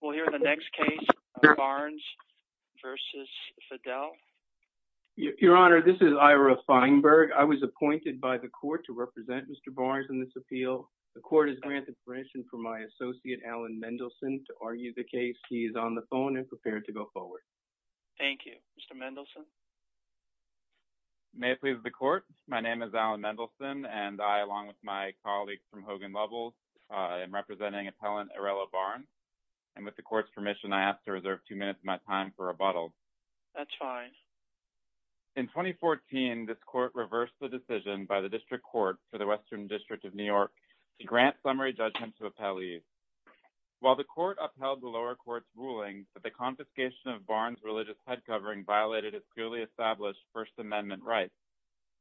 We'll hear the next case Barnes v. Fedele. Your Honor, this is Ira Feinberg. I was appointed by the court to represent Mr. Barnes in this appeal. The court has granted permission for my associate Alan Mendelson to argue the case. He is on the phone and prepared to go forward. Thank you, Mr. Mendelson. May it please the court. My name is Alan Mendelson and I, along with my court's permission, I ask to reserve two minutes of my time for rebuttal. That's fine. In 2014, this court reversed the decision by the district court for the Western District of New York to grant summary judgment to appellees. While the court upheld the lower court's ruling that the confiscation of Barnes' religious head covering violated its purely established First Amendment rights,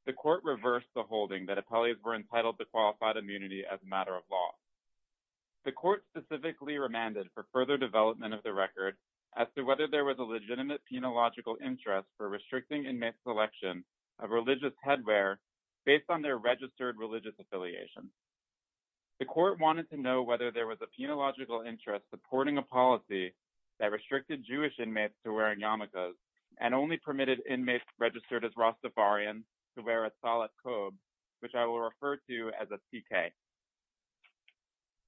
the court reversed the holding that appellees were of the record as to whether there was a legitimate penological interest for restricting inmate selection of religious headwear based on their registered religious affiliation. The court wanted to know whether there was a penological interest supporting a policy that restricted Jewish inmates to wearing yarmulkes and only permitted inmates registered as Rastafarians to wear a solid coat, which I will refer to as a TK.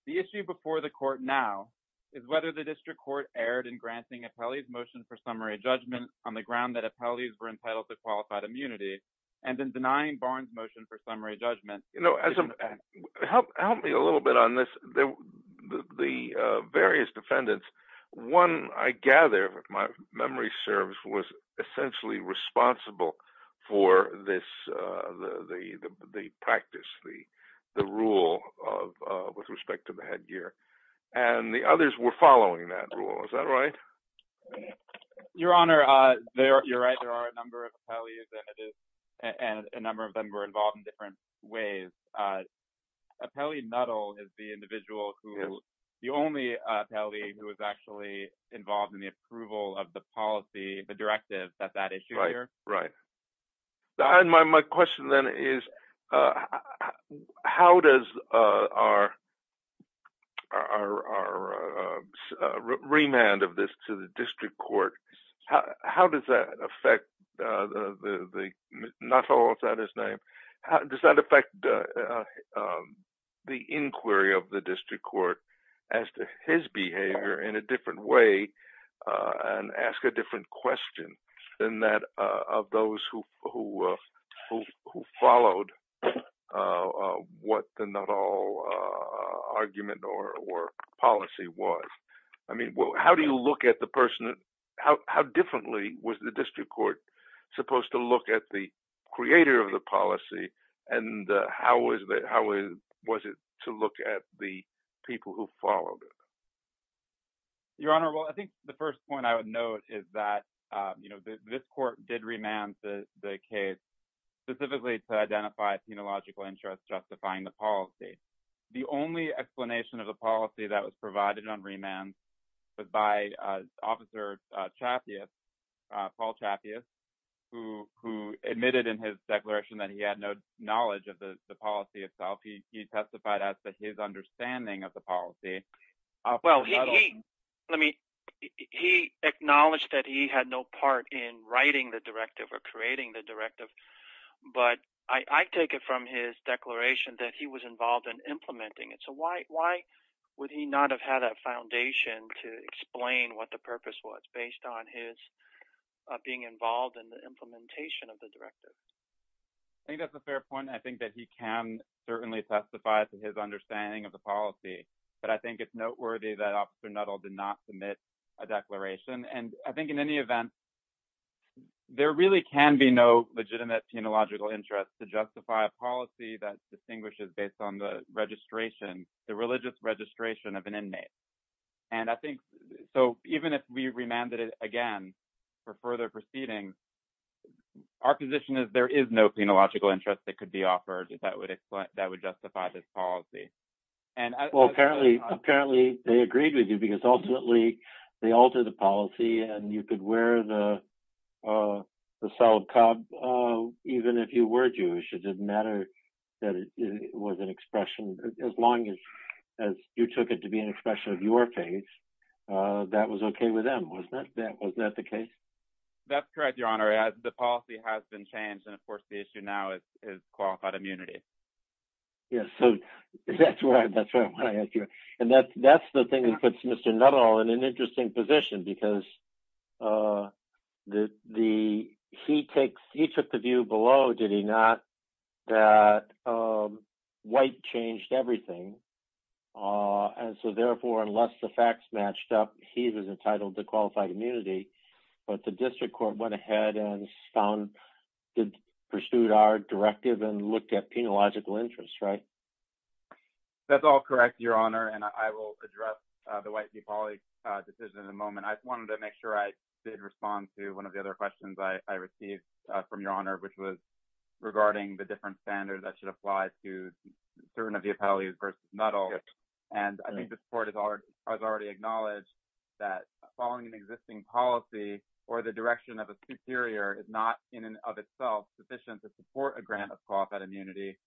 The issue before the court now is whether the district court erred in granting appellees motion for summary judgment on the ground that appellees were entitled to qualified immunity and in denying Barnes' motion for summary judgment. You know, help me a little bit on this. The various defendants, one, I gather, if my memory serves, was essentially responsible for this, the practice, the rule of, with respect to the headgear, and the others were following that rule. Is that right? Your Honor, you're right. There are a number of appellees, and a number of them were involved in different ways. Appellee Nuttall is the individual who, the only appellee who was actually involved in the approval of the policy, the directive, that that issue here. Right. My question then is, how does our remand of this to the district court, how does that affect the, Nuttall, is that his name, how does that affect the inquiry of the district court as to his behavior in a different way, and ask a different question than that of those who followed what the Nuttall argument or policy was? I mean, how do you look at the person, how differently was the district court supposed to look at the creator of the policy, and how was it to look at the people who followed it? Your Honor, well, I think the first point I would note is that, you know, this court did remand the case specifically to identify a penological interest justifying the policy. The only explanation of the policy that was provided on remand was by Officer Chapious, Paul Chapious, who admitted in his declaration that he had no knowledge of the policy itself. He testified as to his understanding of the policy. Well, he, let me, he acknowledged that he had no part in writing the directive or creating the directive, but I take it from his declaration that he was involved in implementing it, so why would he not have had a foundation to explain what the purpose was based on his being involved in the implementation of the directive? I think that's a fair point. I think that he can certainly testify to his understanding of the policy, but I think it's noteworthy that Officer Nuttall did not submit a declaration, and I think in any event, there really can be no legitimate penological interest to justify a policy that distinguishes based on the registration, the religious registration of inmates, and I think, so even if we remanded it again for further proceedings, our position is there is no penological interest that could be offered that would explain, that would justify this policy. Well, apparently, apparently, they agreed with you because ultimately, they altered the policy, and you could wear the solid cobb even if you were Jewish. It didn't affect your page. That was okay with them, wasn't it? Was that the case? That's correct, Your Honor. The policy has been changed, and of course, the issue now is qualified immunity. Yes, so that's what I want to ask you, and that's the thing that puts Mr. Nuttall in an interesting position because he took the view below, did he not, that white changed everything, and so therefore, unless the facts matched up, he was entitled to qualified immunity, but the district court went ahead and found, pursued our directive, and looked at penological interest, right? That's all correct, Your Honor, and I will address the White v. Poli decision in a moment. I wanted to make sure I did respond to one of the other questions I received from Your Honor, which was regarding the different standards that should apply to certain of the appellees versus Nuttall, and I think this court has already acknowledged that following an existing policy or the direction of a superior is not in and of itself sufficient to support a grant of qualified immunity.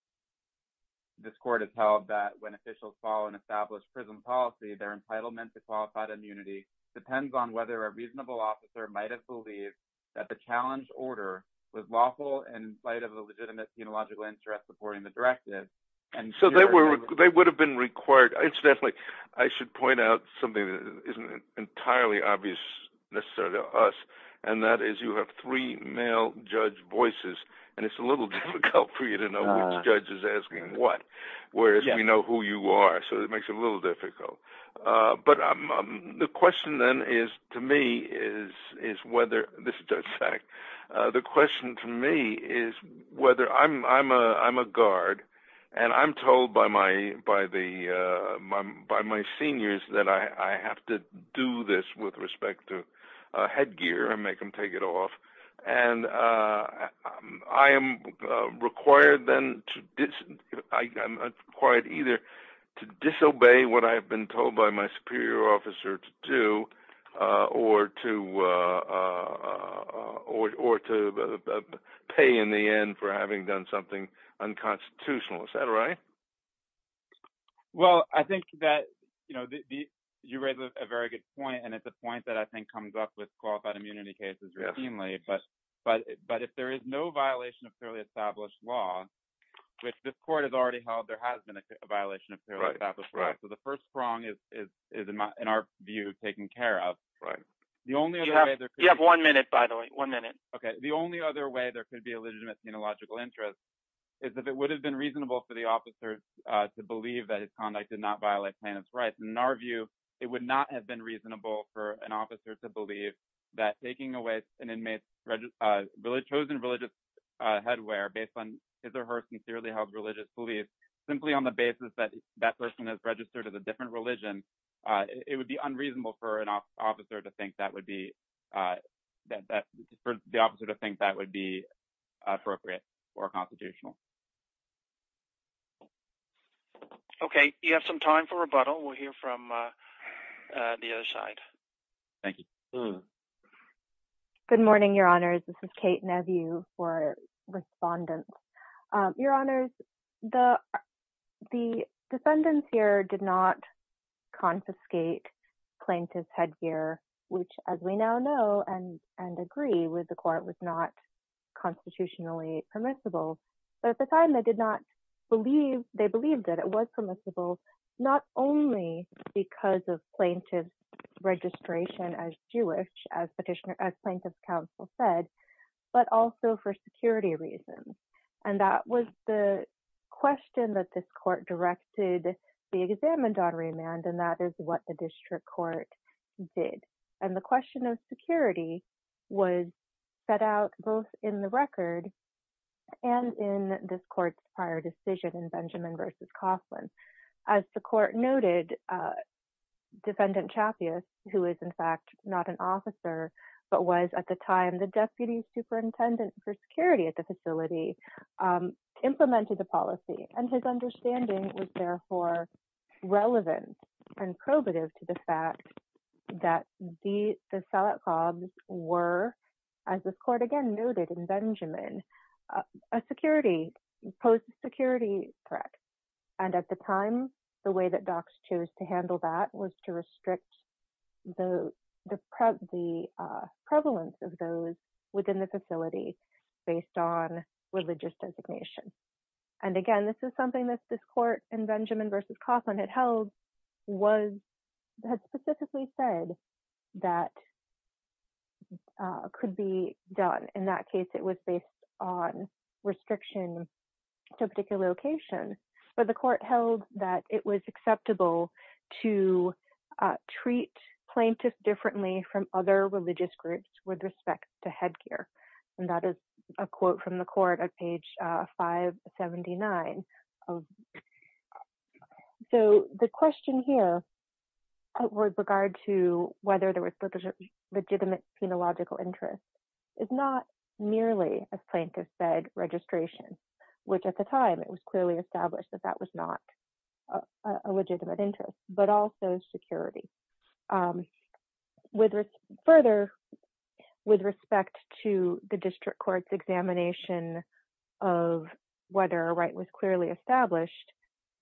This court has held that when officials follow an established prison policy, their entitlement to qualified immunity depends on whether a reasonable officer might have believed that the challenge order was lawful in spite of the legitimate penological interest supporting the directive. They would have been required. Incidentally, I should point out something that isn't entirely obvious necessarily to us, and that is you have three male judge voices, and it's a little difficult for you to know which judge is asking what, whereas we know who you are, so it makes it a little difficult. The question to me is whether I'm a guard, and I'm told by my seniors that I have to do this with respect to headgear and make them take it off, and I am required to either disobey what I've been told by my superior officer to do or to pay in the end for having done something unconstitutional. Is that right? Well, I think that you raise a very good point, and it's a point that I think comes up with qualified immunity cases routinely, but if there is no violation of clearly established law, which this court has already held there has been a violation of clearly established law, so the first prong is in our view taken care of. You have one minute, by the way, one minute. Okay. The only other way there could be a legitimate penological interest is if it would have been reasonable for the officers to believe that his conduct did not violate plaintiff's rights, and in our view, it would not have been reasonable for an officer to believe that taking away an inmate's chosen religious headwear based on his or her sincerely held religious belief simply on the basis that that person is registered as a different religion, it would be unreasonable for an officer to think that would be appropriate or constitutional. Okay. You have some time for rebuttal. We'll hear from the other side. Thank you. Good morning, Your Honors. This is Kate Nevue for respondents. Your Honors, the defendants here did not confiscate plaintiff's headgear, which as we now know and agree with the court was not constitutionally permissible, but at the time they did not believe, they believed that it was permissible not only because of plaintiff's registration as Jewish, as plaintiff's counsel said, but also for security reasons. And that was the question that this court directed the examined on remand, and that is what the district court did. And the question of security was set out both in the record and in this court's prior decision in Benjamin versus Coughlin. As the court noted, defendant Chappius, who is in fact not an officer, but was at the time the deputy superintendent for security at the facility, implemented the policy and his understanding was therefore relevant and probative to the fact that the sellout cobs were, as this court again noted in Benjamin, a security, post security threat. And at the time, the way that docs chose to handle that was to restrict the prevalence of those within the facility based on religious designation. And again, this is something that this court in Benjamin versus Coughlin had held was, had specifically said that could be done. In that case, it was based on restriction to a particular location, but the court held that it was acceptable to treat plaintiffs differently from other religious groups with respect to headgear. And that is a quote from the court at page 579. So the question here with regard to whether there was legitimate phenological interest is not merely, as plaintiffs said, registration, which at the time it was clearly established that that was not a legitimate interest, but also security. Further, with respect to the district court's examination of whether a right was clearly established,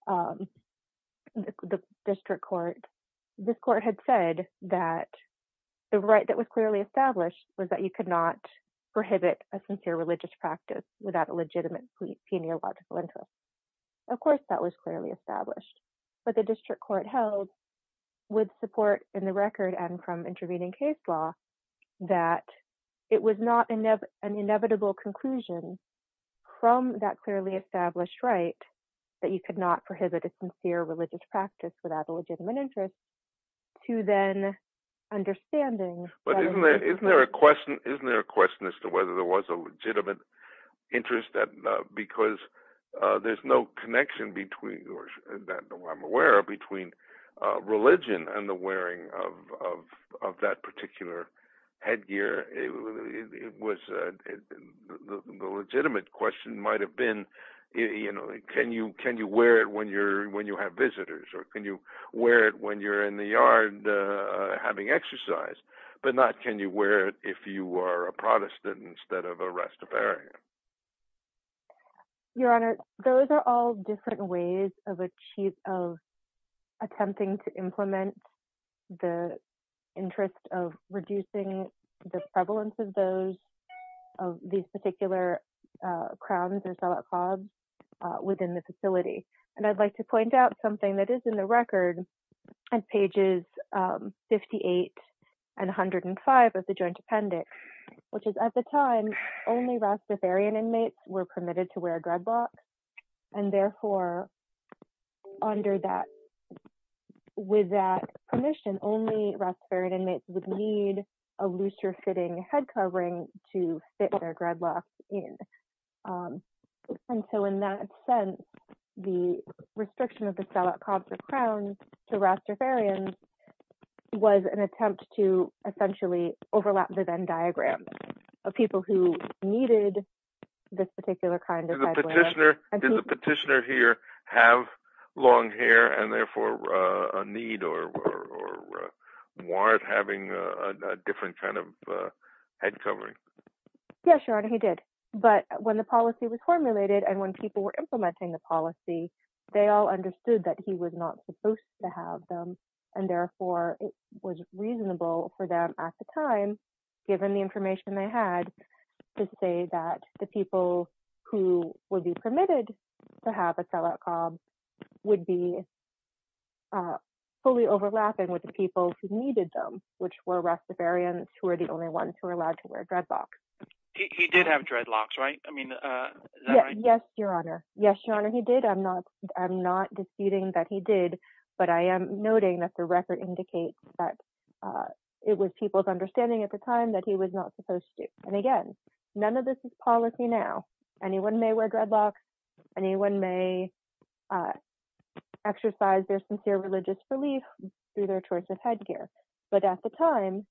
the district court, this court had said that the right that was clearly established was that you could not prohibit a sincere religious practice without a legitimate phenological interest. Of course, that was clearly established, but the district court held with support in the record and from intervening case law that it was not an inevitable conclusion from that clearly established right that you could not prohibit a sincere religious practice without a legitimate interest to then understanding. But isn't there a question as to whether there was a legitimate interest? Because there's no connection between religion and the wearing of that particular headgear. The legitimate question might have been, can you wear it when you have visitors? Or can you wear it when you're in the yard having exercise? But not, can you wear it if you are a Protestant instead of a Rastafarian? Your Honor, those are all different ways of attempting to implement the interest of reducing the prevalence of these particular crowns or salat khobs within the facility. And I'd like to point out something that is in the record at pages 58 and 105 of the joint appendix, which is at the time only Rastafarian inmates were permitted to wear a dreadlock. And therefore, under that, with that permission, only Rastafarian inmates would need a looser fitting head covering to fit their dreadlocks in. And so in that sense, the restriction of the salat khobs or crowns to Rastafarians was an attempt to essentially overlap the Venn diagram of people who needed this particular kind of headwear. Did the petitioner here have long hair and therefore a need or warrant having a different kind of head covering? Yes, Your Honor, he did. But when the policy was formulated and when people were implementing the policy, they all understood that he was not supposed to have them. And therefore, it was reasonable for them at the time, given the information they had, to say that the people who would be permitted to have a salat khob would be fully overlapping with the people who needed them, which were Rastafarians, who are the only ones who are allowed to wear dreadlocks. He did have dreadlocks, right? Yes, Your Honor. Yes, Your Honor, he did. I'm not disputing that he did, but I am noting that the record indicates that it was people's understanding at the time that he was not supposed to. And again, none of this is policy now. Anyone may wear dreadlocks. Anyone may exercise their sincere religious belief through their choice of headgear. But at the time,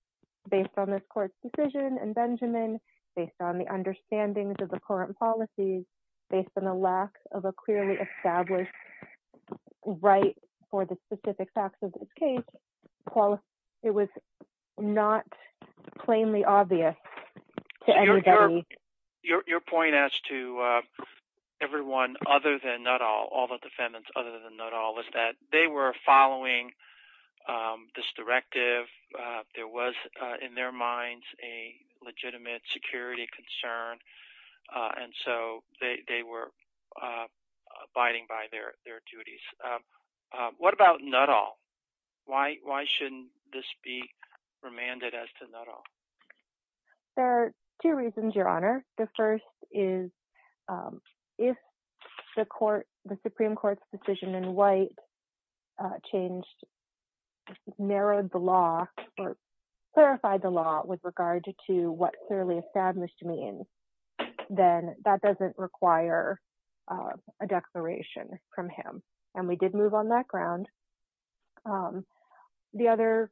based on this court's decision and Benjamin, based on the understandings of the current policies, based on the lack of a clearly established right for the specific facts of this case, it was not plainly obvious to anybody. Your point as to everyone other than all the defendants was that they were following this directive. There was in their minds a legitimate security concern, and so they were abiding by their duties. What about not all? Why shouldn't this be remanded as to not all? There are two reasons, Your Honor. The first is if the Supreme Court's decision in White narrowed the law or clarified the law with regard to what clearly established means, then that doesn't require a declaration from him. And we did move on that ground. The other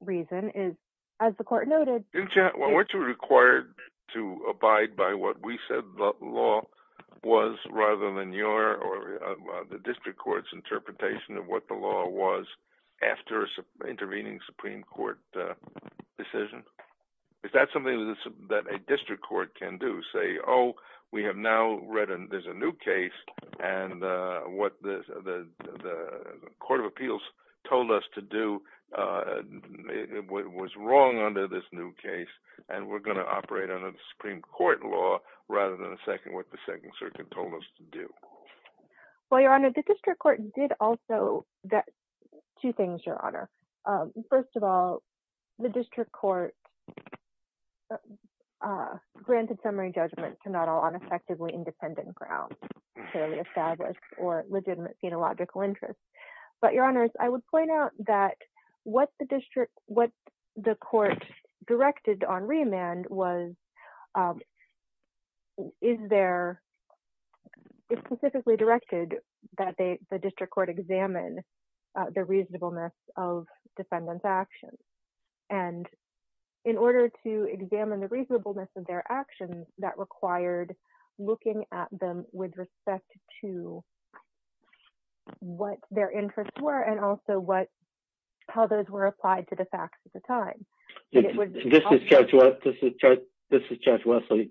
reason is, as the court noted— Well, weren't you required to abide by what we said the law was rather than your or the district court's interpretation of what the law was after intervening Supreme Court decision? Is that something that a district court can do? Say, oh, we have now read there's a new case, and what the Court of Appeals told us to do and what was wrong under this new case, and we're going to operate under the Supreme Court law rather than what the Second Circuit told us to do. Well, Your Honor, the district court did also— two things, Your Honor. First of all, the district court granted summary judgment to not all on effectively independent grounds, clearly established or legitimate phenological interests. But, Your Honor, I would point out that what the district— what the court directed on remand was, is there— it specifically directed that the district court examine the reasonableness of defendant's actions. And in order to examine the reasonableness of their actions, that required looking at them with respect to what their interests were and also what— how those were applied to the facts at the time. This is Judge Wesley.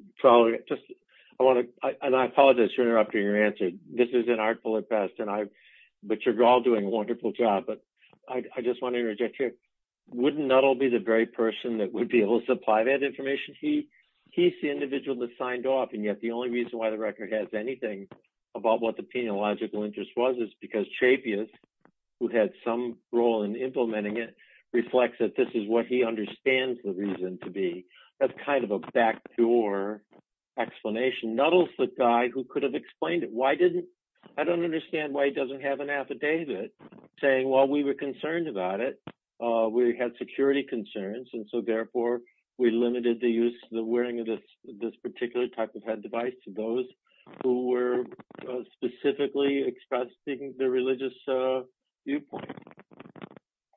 I apologize for interrupting your answer. This is an artful at best, and I— but you're all doing a wonderful job. But I just want to interject here. Wouldn't Nuttall be the very person that would be able to supply that information? He's the individual that about what the phenological interest was. It's because Chapious, who had some role in implementing it, reflects that this is what he understands the reason to be. That's kind of a backdoor explanation. Nuttall's the guy who could have explained it. Why didn't— I don't understand why he doesn't have an affidavit saying, well, we were concerned about it. We had security concerns, and so therefore we limited the use— the wearing of this particular type of head device to those who were specifically expressing their religious viewpoint.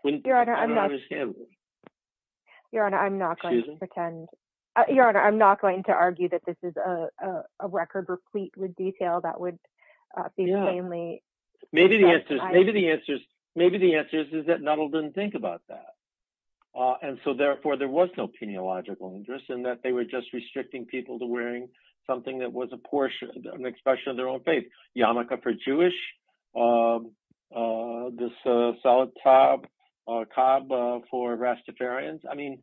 I don't understand this. Your Honor, I'm not going to pretend— Your Honor, I'm not going to argue that this is a record replete with detail that would be plainly— Maybe the answer is— maybe the answer is— maybe the answer is that Nuttall didn't think about that. And so therefore there was no phenological interest in that they were just restricting people to wearing something that was a portion— an expression of their own faith. Yarmulke for Jewish. This salatab for Rastafarians. I mean,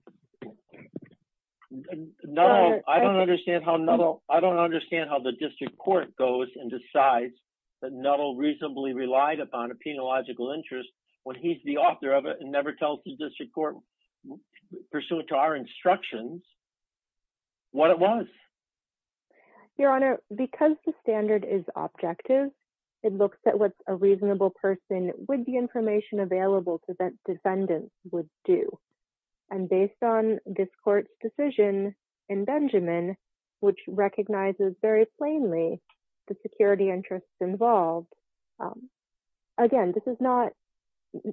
Nuttall— I don't understand how Nuttall— I don't understand how the district court goes and decides that Nuttall reasonably relied upon a phenological interest when he's the author of it and never tells the district court, pursuant to our instructions, what it was. Your Honor, because the standard is objective, it looks at what a reasonable person with the information available to defendants would do. And based on this court's decision in Benjamin, which recognizes very plainly the security interests involved, again, this is not—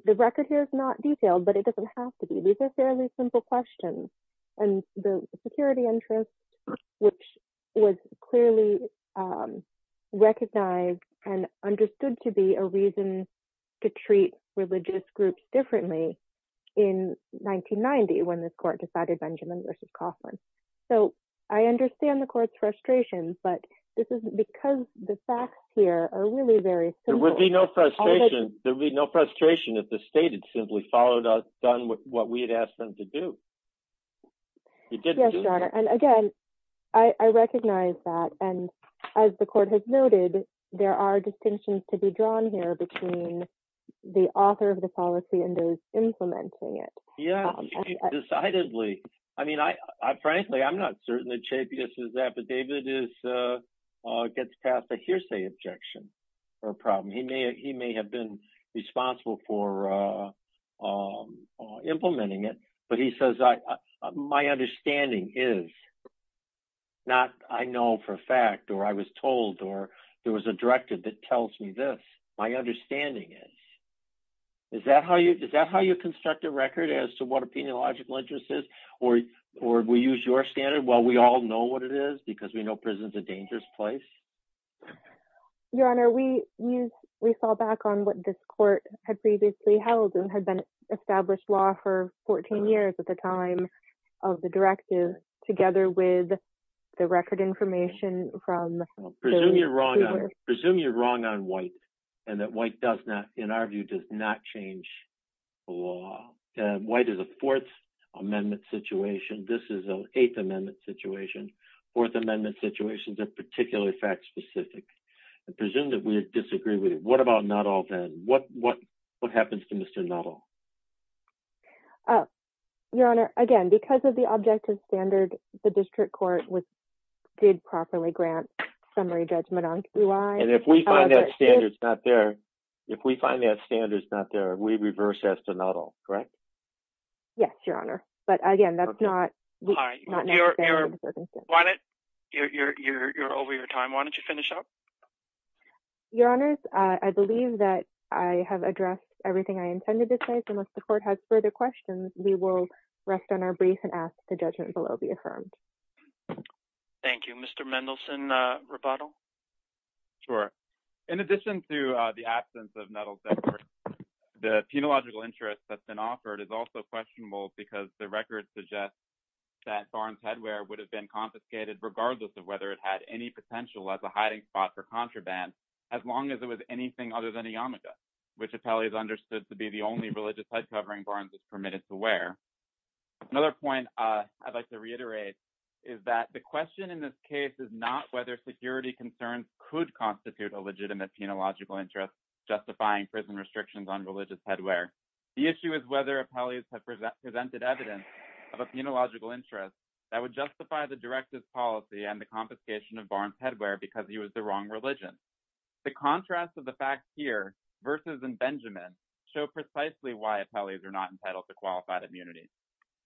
the record here is not detailed, but it doesn't have to be. These are fairly simple questions. And the security interest, which was clearly recognized and understood to be a reason to treat religious groups differently in 1990, when this court decided Benjamin v. Coughlin. So I understand the court's frustration, but this is because the facts here are really very simple. There would be no frustration— Yes, Your Honor. And again, I recognize that. And as the court has noted, there are distinctions to be drawn here between the author of the policy and those implementing it. Yeah, decidedly. I mean, frankly, I'm not certain that Chapious is that, but David gets past the hearsay objection or problem. He may have been responsible for implementing it, but he says, my understanding is not I know for a fact, or I was told, or there was a directive that tells me this. My understanding is. Is that how you construct a record as to what a peniological interest is? Or we use your standard, well, we all know what it is because we know prison's a dangerous place? Your Honor, we saw back on what this court had previously held and had been established law for 14 years at the time of the directive, together with the record information from— Presume you're wrong on White, and that White does not, in our view, does not change the law. White is a Fourth Amendment situation. This is an Eighth Amendment situation. Fourth Amendment situations are particularly fact-specific. I presume that we disagree with it. What about not all then? What happens to Mr. Not All? Your Honor, again, because of the objective standard, the district court did properly grant summary judgment on who I— And if we find that standard's not there, if we find that standard's not there, we reverse that to not all, correct? Yes, Your Honor, but again, that's not— You're over your time. Why don't you finish up? Your Honors, I believe that I have addressed everything I intended to say, so unless the court has further questions, we will rest on our brief and ask that the judgment below be affirmed. Thank you. Mr. Mendelson, rebuttal? Sure. In addition to the absence of Nettles Edward, the peniological interest that's been offered is also questionable because the record suggests that Thorne's headwear would have been confiscated regardless of whether it had any potential as a hiding spot for contraband as long as it was anything other than a yarmulke, which appellees understood to be the only religious head covering Barnes is permitted to wear. Another point I'd like to reiterate is that the question in this case is not whether security concerns could constitute a legitimate peniological interest justifying prison restrictions on religious headwear. The issue is whether appellees have presented evidence of a peniological interest that would justify the directive's policy and the confiscation of Barnes' headwear because he was the wrong religion. The contrast of the facts here versus in Benjamin show precisely why appellees are not entitled to qualified immunity.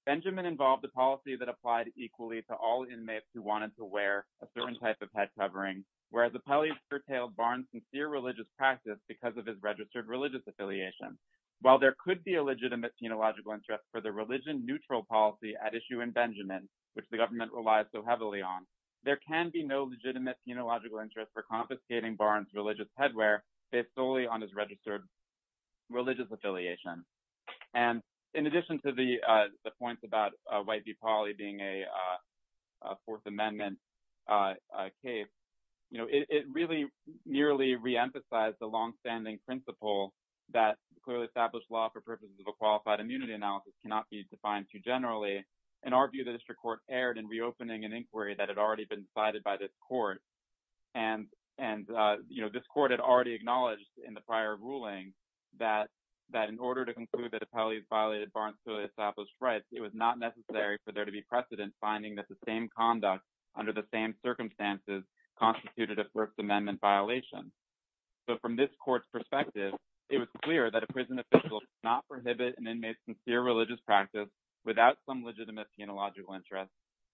Benjamin involved the policy that applied equally to all inmates who wanted to wear a certain type of head covering, whereas appellees curtailed Barnes' sincere religious practice because of his registered religious affiliation. While there could be a legitimate peniological interest for the religion-neutral policy at issue in Benjamin, which the government relies so heavily on, there can be no legitimate peniological interest for confiscating Barnes' religious headwear based solely on his registered religious affiliation. And in addition to the points about White v. Pauley being a Fourth Amendment case, you know, it really nearly re-emphasized the long-standing principle that clearly established law for purposes of a qualified immunity analysis cannot be defined too generally. In our view, the district court erred in reopening an inquiry that had already been decided by this court. And, you know, this court had already acknowledged in the prior ruling that in order to conclude that appellees violated Barnes' and Pauley's rights, it was not necessary for there to be precedent finding that the same conduct under the same circumstances constituted a First Amendment violation. So from this court's perspective, it was clear that a prison without some legitimate peniological interest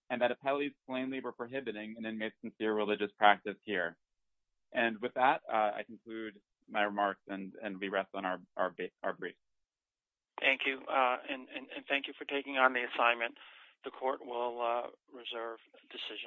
and that appellees plainly were prohibiting an inmate's sincere religious practice here. And with that, I conclude my remarks and we rest on our brief. Thank you. And thank you for taking on the assignment. The court will reserve decision.